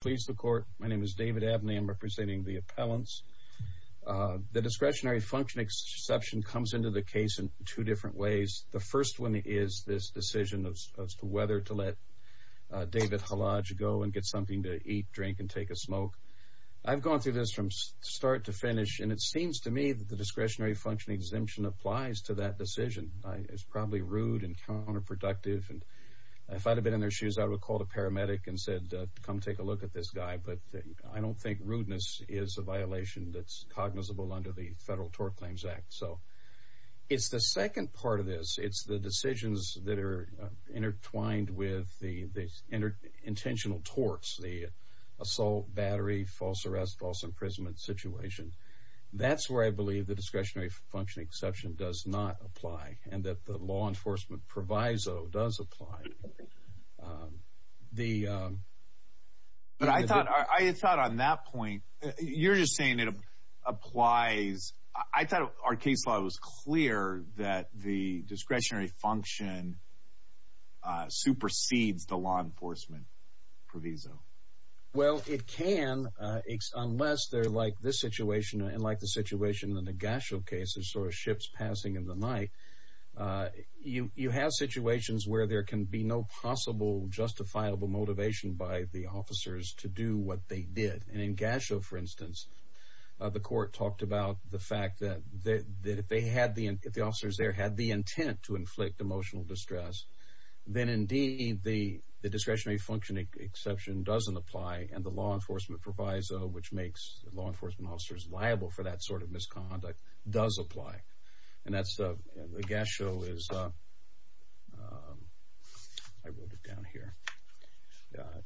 Please the court. My name is David Abney. I'm representing the appellants. The discretionary function exemption comes into the case in two different ways. The first one is this decision as to whether to let David Khalaj go and get something to eat, drink, and take a smoke. I've gone through this from start to finish, and it seems to me that the discretionary function exemption applies to that decision. It's probably rude and counterproductive, and if I'd have been in their shoes, I would have called a paramedic and said, come take a look at this guy, but I don't think rudeness is a violation that's cognizable under the Federal Tort Claims Act. It's the second part of this. It's the decisions that are intertwined with the intentional torts, the assault, battery, false arrest, false imprisonment situation. That's where I believe the discretionary function exception does not apply and that the law enforcement proviso does apply. But I thought on that point, you're just saying it applies. I thought our case law was clear that the discretionary function supersedes the law enforcement proviso. Well, it can unless they're like this situation and like the situation in the Gashel case, the sort of ship's passing in the night. You have situations where there can be no possible justifiable motivation by the officers to do what they did. In Gashel, for instance, the court talked about the fact that if the officers there had the intent to inflict emotional distress, then indeed the discretionary function exception doesn't apply and the law enforcement proviso, which makes law enforcement officers liable for that sort of misconduct, does apply. And that's the Gashel is, I wrote it down here.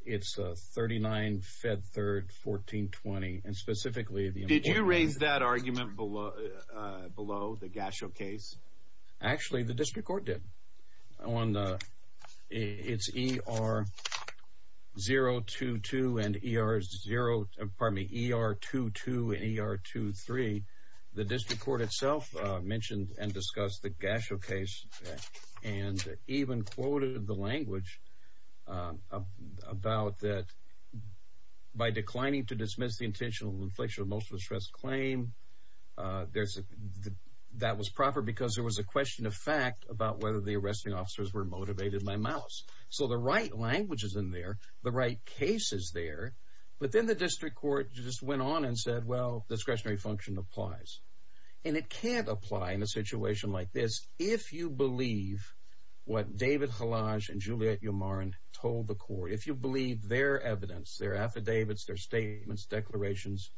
It's 39 Fed Third 1420 and specifically the... Did you raise that argument below the Gashel case? Actually, the district court did. It's ER 022 and ER 0, pardon me, ER 22 and ER 23. The district court itself mentioned and discussed the Gashel case and even quoted the language about that by declining to dismiss the intentional infliction of emotional distress claim, that was proper because there was a question of fact about whether the arresting officers were motivated by malice. So the right language is in there, the right case is there, but then the district court just went on and said, well, discretionary function applies. And it can't apply in a situation like this if you believe what David Hallage and Juliette Umarin told the court. If you believe their evidence, their affidavits, their statements, declarations,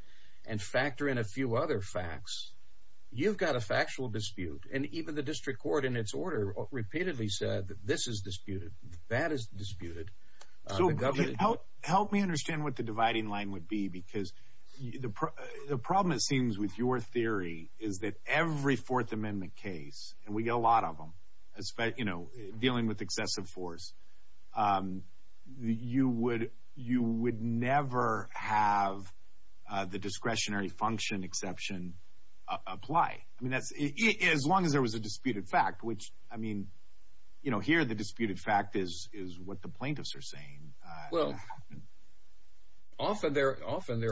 and factor in a few other facts, you've got a factual dispute. And even the district court in its order repeatedly said that this is disputed, that is disputed. So help me understand what the dividing line would be because the problem, it seems, with your theory is that every Fourth Amendment case, and we get a lot of them, dealing with excessive force, you would never have the discretionary function exception apply. As long as there was a disputed fact, which, I mean, here the disputed fact is what the plaintiffs are saying. Well, often there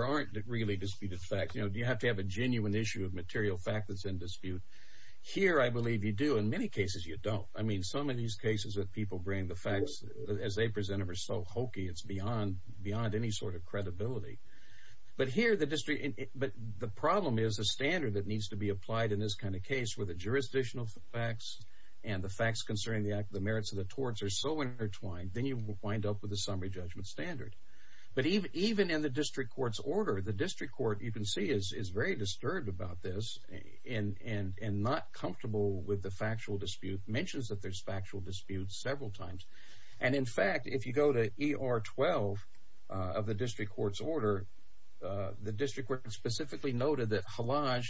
aren't really disputed facts. You have to have a genuine issue of material fact that's in dispute. Here I believe you do. In many cases you don't. I mean, some of these cases that people bring, the facts as they present them are so hokey, it's beyond any sort of credibility. But here the problem is a standard that needs to be applied in this kind of case where the jurisdictional facts and the facts concerning the merits of the torts are so intertwined, then you wind up with a summary judgment standard. But even in the district court's order, the district court, you can see, is very disturbed about this and not comfortable with the factual dispute, mentions that there's factual dispute several times. And, in fact, if you go to ER 12 of the district court's order, the district court specifically noted that Halaj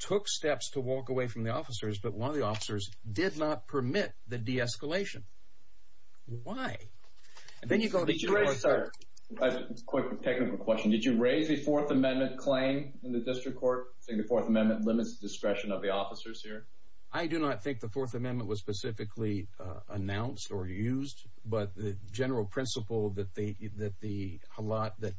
took steps to walk away from the officers, but one of the officers did not permit the de-escalation. Why? Then you go to the first... A quick technical question. Did you raise the Fourth Amendment claim in the district court, saying the Fourth Amendment limits the discretion of the officers here? I do not think the Fourth Amendment was specifically announced or used, but the general principle that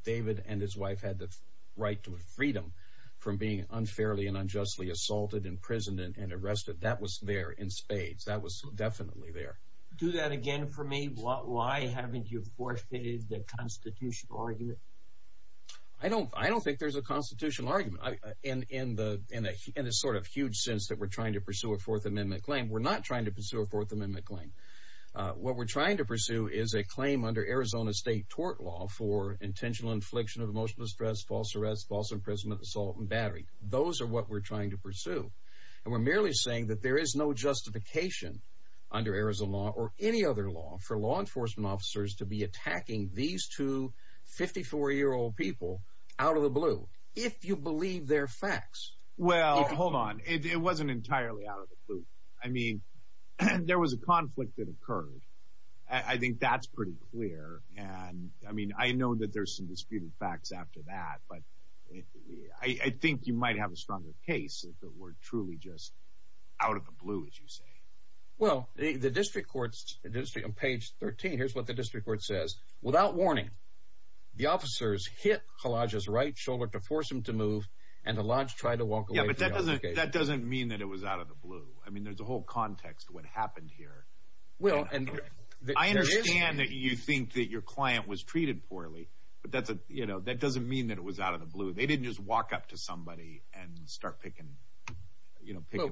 David and his wife had the right to freedom from being unfairly and unjustly assaulted, imprisoned, and arrested, that was there in spades. That was definitely there. Do that again for me. Why haven't you forfeited the constitutional argument? I don't think there's a constitutional argument. In the sort of huge sense that we're trying to pursue a Fourth Amendment claim, we're not trying to pursue a Fourth Amendment claim. What we're trying to pursue is a claim under Arizona state tort law for intentional infliction of emotional distress, false arrest, Those are what we're trying to pursue. We're merely saying that there is no justification under Arizona law or any other law for law enforcement officers to be attacking these two 54-year-old people out of the blue, if you believe their facts. Well, hold on. It wasn't entirely out of the blue. I mean, there was a conflict that occurred. I think that's pretty clear. I mean, I know that there's some disputed facts after that, but I think you might have a stronger case that we're truly just out of the blue, as you say. Well, the district court, on page 13, here's what the district court says. Without warning, the officers hit Halaj's right shoulder to force him to move, and Halaj tried to walk away from the altercation. Yeah, but that doesn't mean that it was out of the blue. I mean, there's a whole context to what happened here. I understand that you think that your client was treated poorly, but that doesn't mean that it was out of the blue. They didn't just walk up to somebody and start picking a fight.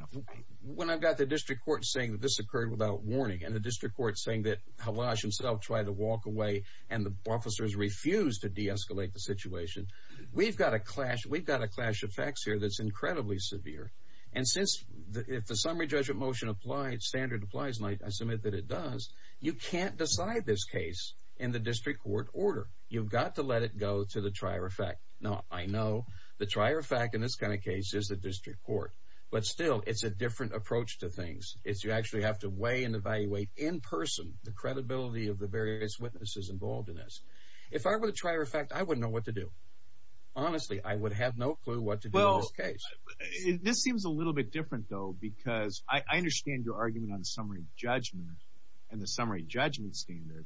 When I've got the district court saying that this occurred without warning and the district court saying that Halaj himself tried to walk away and the officers refused to de-escalate the situation, we've got a clash of facts here that's incredibly severe. And since if the summary judgment motion applies, standard applies, and I submit that it does, you can't decide this case in the district court order. You've got to let it go to the trier effect. Now, I know the trier effect in this kind of case is the district court, but still, it's a different approach to things. You actually have to weigh and evaluate in person the credibility of the various witnesses involved in this. If I were the trier effect, I wouldn't know what to do. Honestly, I would have no clue what to do in this case. This seems a little bit different, though, because I understand your argument on summary judgment and the summary judgment standard,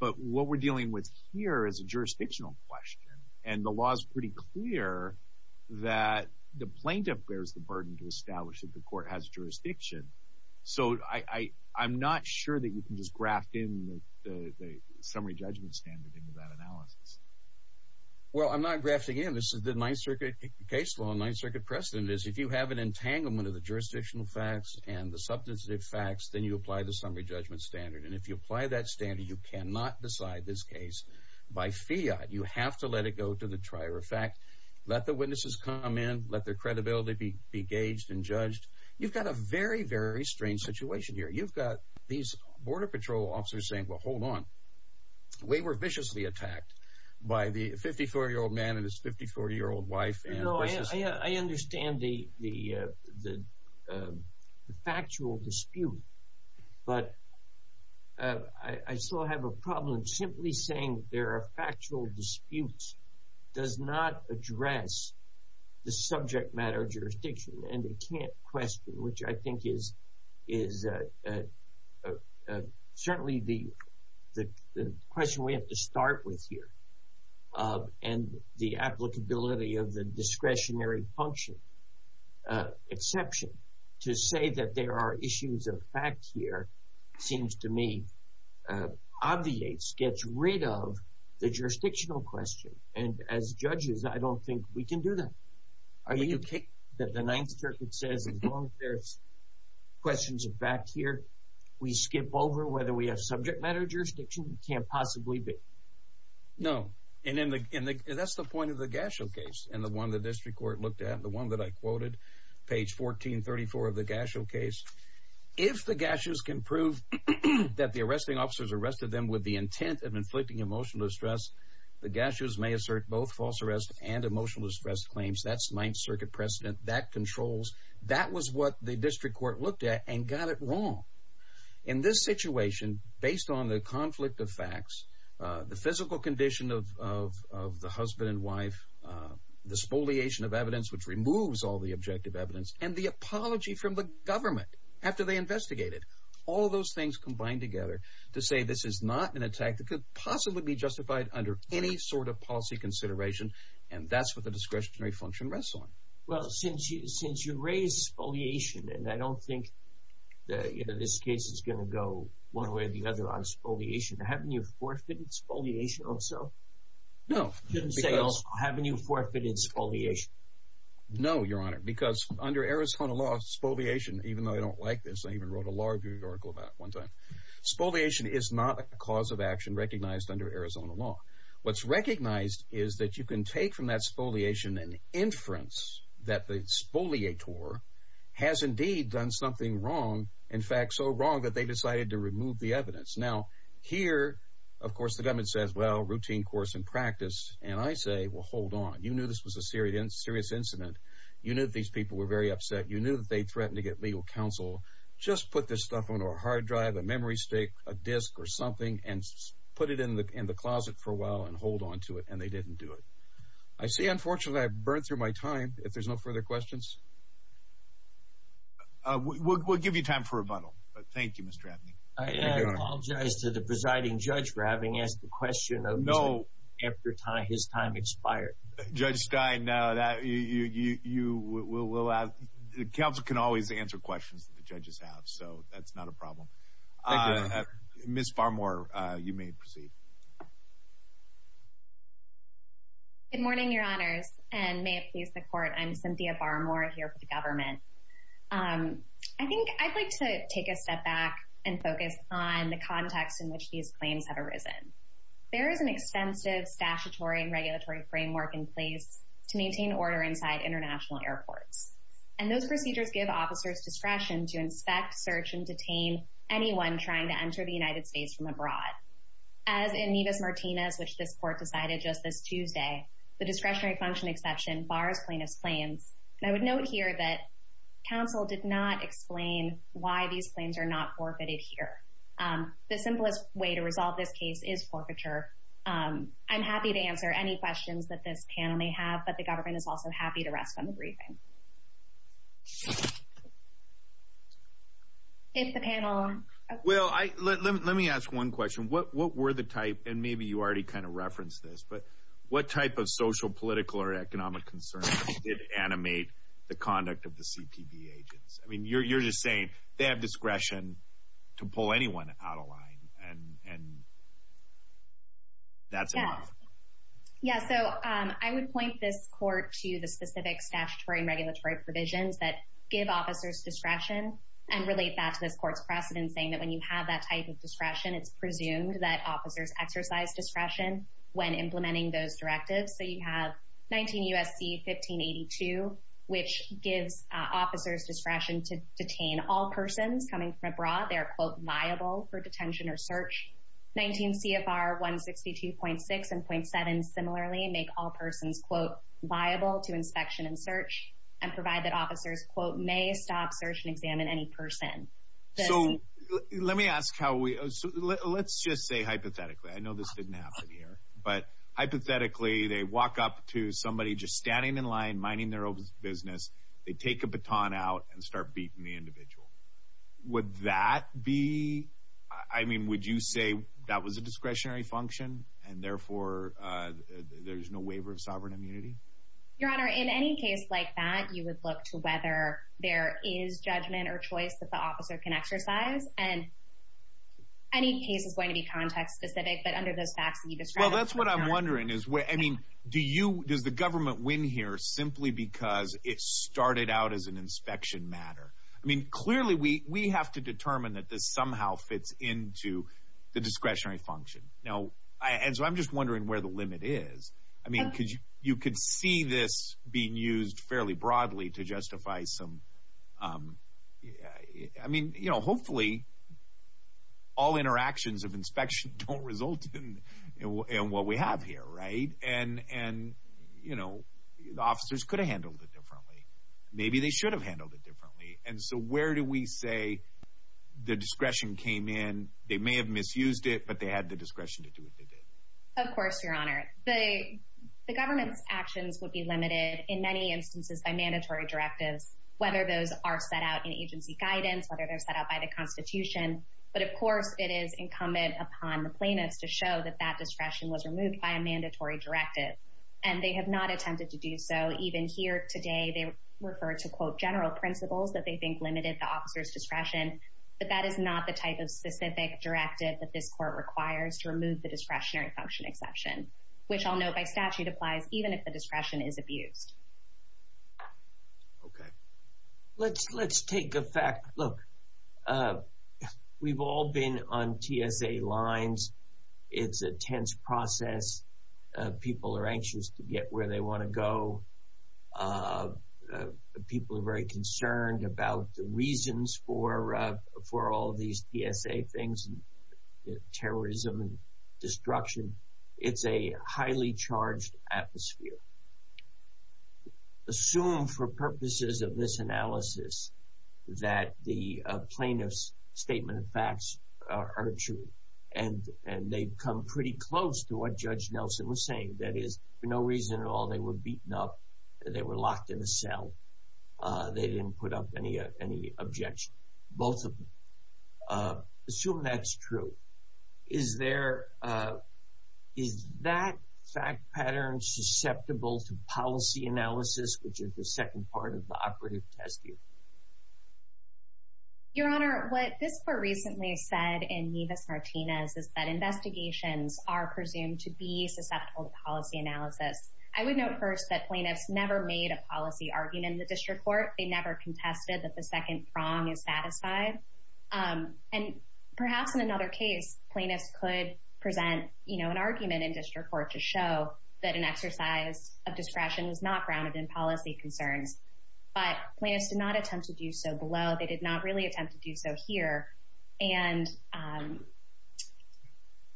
but what we're dealing with here is a jurisdictional question, and the law is pretty clear that the plaintiff bears the burden to establish that the court has jurisdiction. So I'm not sure that you can just graft in the summary judgment standard into that analysis. Well, I'm not grafting in. This is the Ninth Circuit case law. The Ninth Circuit precedent is if you have an entanglement of the jurisdictional facts and the substantive facts, then you apply the summary judgment standard. And if you apply that standard, you cannot decide this case by fiat. You have to let it go to the trier effect. Let the witnesses come in. Let their credibility be gauged and judged. You've got a very, very strange situation here. You've got these Border Patrol officers saying, Well, hold on. We were viciously attacked by the 54-year-old man and his 54-year-old wife. No, I understand the factual dispute, but I still have a problem. Simply saying there are factual disputes does not address the subject matter of jurisdiction. And they can't question, which I think is certainly the question we have to start with here, and the applicability of the discretionary function exception to say that there are issues of fact here seems to me obviates, gets rid of the jurisdictional question. And as judges, I don't think we can do that. Are you okay that the Ninth Circuit says as long as there's questions of fact here, we skip over whether we have subject matter of jurisdiction? It can't possibly be. No, and that's the point of the Gasho case and the one the district court looked at, the one that I quoted, page 1434 of the Gasho case. If the Gashos can prove that the arresting officers arrested them with the intent of inflicting emotional distress, the Gashos may assert both false arrest and emotional distress claims. That's Ninth Circuit precedent. That controls. That was what the district court looked at and got it wrong. In this situation, based on the conflict of facts, the physical condition of the husband and wife, the spoliation of evidence, which removes all the objective evidence, and the apology from the government after they investigated, all those things combined together to say this is not an attack that could possibly be justified under any sort of policy consideration, and that's what the discretionary function rests on. Well, since you raised spoliation, and I don't think this case is going to go one way or the other on spoliation, haven't you forfeited spoliation also? No. You didn't say also, haven't you forfeited spoliation? No, Your Honor, because under Arizona law, spoliation, even though I don't like this, I even wrote a law review article about it one time, spoliation is not a cause of action recognized under Arizona law. What's recognized is that you can take from that spoliation an inference that the spoliator has indeed done something wrong, in fact, so wrong that they decided to remove the evidence. Now, here, of course, the government says, well, routine course and practice, and I say, well, hold on. You knew this was a serious incident. You knew these people were very upset. You knew that they threatened to get legal counsel. Just put this stuff on a hard drive, a memory stick, a disc, or something, and put it in the closet for a while and hold on to it, and they didn't do it. I see, unfortunately, I've burned through my time. If there's no further questions? We'll give you time for rebuttal, but thank you, Mr. Abney. I apologize to the presiding judge for having asked the question after his time expired. Judge Stein, no, you will have the counsel can always answer questions that the judges have, so that's not a problem. Ms. Barmore, you may proceed. Good morning, Your Honors, and may it please the Court. I'm Cynthia Barmore here for the government. I think I'd like to take a step back and focus on the context in which these claims have arisen. There is an extensive statutory and regulatory framework in place to maintain order inside international airports, and those procedures give officers discretion to inspect, search, and detain anyone trying to enter the United States from abroad. As in Nevis-Martinez, which this Court decided just this Tuesday, the discretionary function exception bars plaintiff's claims. I would note here that counsel did not explain why these claims are not forfeited here. The simplest way to resolve this case is forfeiture. I'm happy to answer any questions that this panel may have, but the government is also happy to rest on the briefing. If the panel... Well, let me ask one question. What were the type, and maybe you already kind of referenced this, but what type of social, political, or economic concerns did animate the conduct of the CPB agents? I mean, you're just saying they have discretion to pull anyone out of line, and that's enough. Yeah, so I would point this Court to the specific statutory and regulatory provisions that give officers discretion and relate that to this Court's precedent saying that when you have that type of discretion, it's presumed that officers exercise discretion when implementing those directives. So you have 19 U.S.C. 1582, which gives officers discretion to detain all persons coming from abroad. They are, quote, viable for detention or search. 19 CFR 162.6 and .7 similarly make all persons, quote, viable to inspection and search and provide that officers, quote, may stop, search, and examine any person. So let me ask how we, let's just say hypothetically, I know this didn't happen here, but hypothetically they walk up to somebody just standing in line, minding their own business, they take a baton out and start beating the individual. Would that be, I mean, would you say that was a discretionary function and therefore there's no waiver of sovereign immunity? Your Honor, in any case like that, you would look to whether there is judgment or choice that the officer can exercise. And any case is going to be context specific, but under those facts you described. Well, that's what I'm wondering is, I mean, do you, does the government win here simply because it started out as an inspection matter? I mean, clearly we have to determine that this somehow fits into the discretionary function. And so I'm just wondering where the limit is. I mean, you could see this being used fairly broadly to justify some, I mean, you know, hopefully all interactions of inspection don't result in what we have here, right? And, you know, the officers could have handled it differently. Maybe they should have handled it differently. And so where do we say the discretion came in, they may have misused it, but they had the discretion to do what they did? Of course, Your Honor. The government's actions would be limited in many instances by mandatory directives, whether those are set out in agency guidance, whether they're set out by the Constitution. But, of course, it is incumbent upon the plaintiffs to show that that discretion was removed by a mandatory directive. And they have not attempted to do so. Even here today they refer to, quote, general principles that they think limited the officer's discretion. But that is not the type of specific directive that this court requires to remove the discretionary function exception, which I'll note by statute applies even if the discretion is abused. Okay. Let's take a fact. Look, we've all been on TSA lines. It's a tense process. People are anxious to get where they want to go. People are very concerned about the reasons for all these TSA things, terrorism and destruction. It's a highly charged atmosphere. Assume for purposes of this analysis that the plaintiff's statement of facts are true, and they've come pretty close to what Judge Nelson was saying, that is, for no reason at all they were beaten up, they were locked in a cell, they didn't put up any objection, both of them. Assume that's true. Is that fact pattern susceptible to policy analysis, which is the second part of the operative test here? Your Honor, what this court recently said in Nevis-Martinez is that investigations are presumed to be susceptible to policy analysis. I would note first that plaintiffs never made a policy argument in the district court. They never contested that the second prong is satisfied. And perhaps in another case, plaintiffs could present an argument in district court to show that an exercise of discretion is not grounded in policy concerns. But plaintiffs did not attempt to do so below. They did not really attempt to do so here. And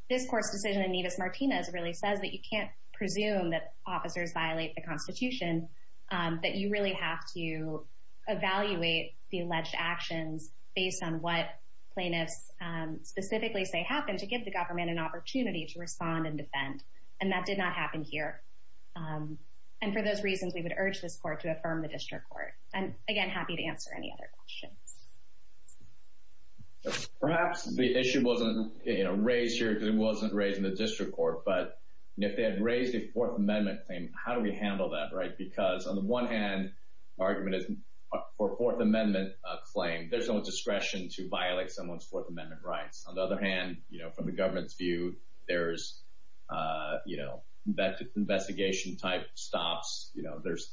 this court's decision in Nevis-Martinez really says that you can't presume that officers violate the Constitution, that you really have to evaluate the alleged actions based on what plaintiffs specifically say happened to give the government an opportunity to respond and defend. And that did not happen here. And for those reasons, we would urge this court to affirm the district court. I'm, again, happy to answer any other questions. Perhaps the issue wasn't raised here because it wasn't raised in the district court, but if they had raised a Fourth Amendment claim, how do we handle that? Because on the one hand, the argument is for a Fourth Amendment claim, there's no discretion to violate someone's Fourth Amendment rights. On the other hand, from the government's view, there's investigation-type stops. This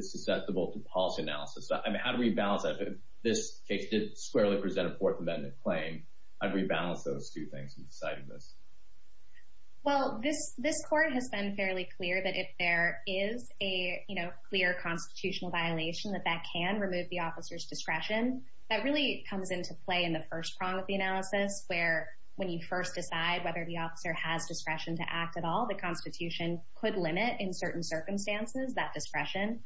is susceptible to policy analysis. How do we balance that? If this case did squarely present a Fourth Amendment claim, I'd rebalance those two things in deciding this. Well, this court has been fairly clear that if there is a clear constitutional violation, that that can remove the officer's discretion. That really comes into play in the first prong of the analysis, where when you first decide whether the officer has discretion to act at all, the Constitution could limit, in certain circumstances, that discretion.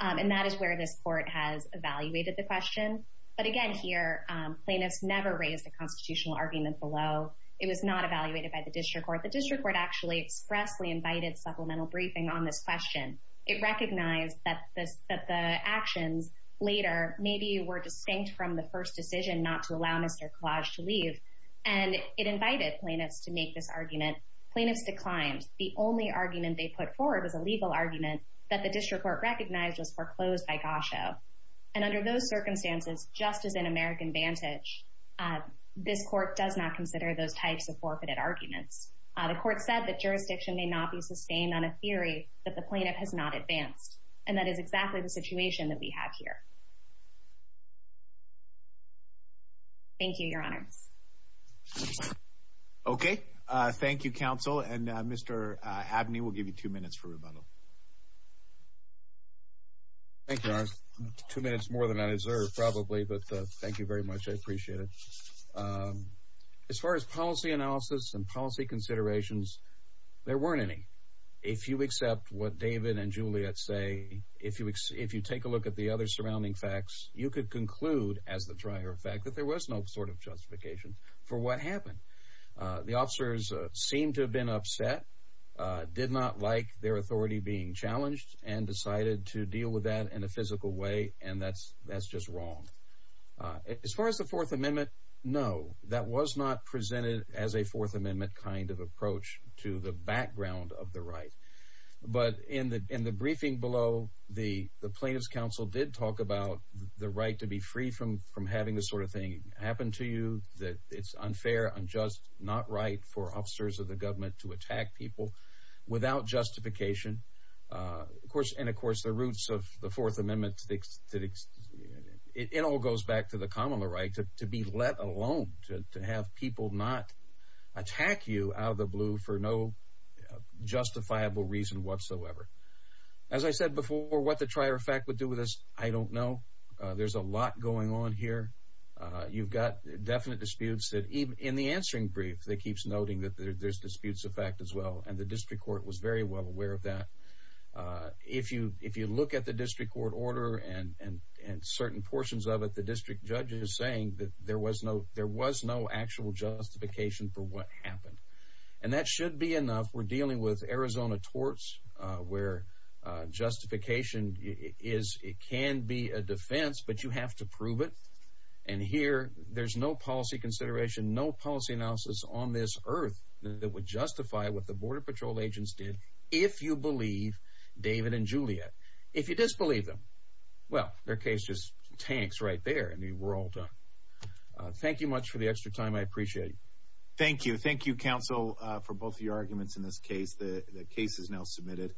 And that is where this court has evaluated the question. But again here, plaintiffs never raised a constitutional argument below. It was not evaluated by the district court. The district court actually expressly invited supplemental briefing on this question. It recognized that the actions later maybe were distinct from the first decision not to allow Mr. Kalaj to leave, and it invited plaintiffs to make this argument. Plaintiffs declined. The only argument they put forward was a legal argument that the district court recognized was foreclosed by Gosho. And under those circumstances, just as in American Vantage, this court does not consider those types of forfeited arguments. The court said that jurisdiction may not be sustained on a theory that the plaintiff has not advanced. And that is exactly the situation that we have here. Thank you, Your Honors. Okay. Thank you, Counsel. And Mr. Abney, we'll give you two minutes for rebuttal. Thank you, Your Honors. Two minutes more than I deserve probably, but thank you very much. I appreciate it. As far as policy analysis and policy considerations, there weren't any. If you accept what David and Juliet say, if you take a look at the other surrounding facts, you could conclude as the prior fact that there was no sort of justification for what happened. The officers seemed to have been upset, did not like their authority being challenged, and decided to deal with that in a physical way, and that's just wrong. As far as the Fourth Amendment, no. That was not presented as a Fourth Amendment kind of approach to the background of the right. But in the briefing below, the plaintiff's counsel did talk about the right to be free from having this sort of thing happen to you, that it's unfair, unjust, not right for officers of the government to attack people without justification. And, of course, the roots of the Fourth Amendment, it all goes back to the common law right, to be let alone, to have people not attack you out of the blue for no justifiable reason whatsoever. As I said before, what the prior fact would do with this, I don't know. There's a lot going on here. You've got definite disputes. In the answering brief, it keeps noting that there's disputes of fact as well, and the district court was very well aware of that. If you look at the district court order and certain portions of it, the district judge is saying that there was no actual justification for what happened. And that should be enough. We're dealing with Arizona torts where justification can be a defense, but you have to prove it, and here there's no policy consideration, no policy analysis on this earth that would justify what the Border Patrol agents did if you believe David and Juliet. If you disbelieve them, well, their case just tanks right there. I mean, we're all done. Thank you much for the extra time. I appreciate it. Thank you. Thank you, counsel, for both of your arguments in this case. The case is now submitted.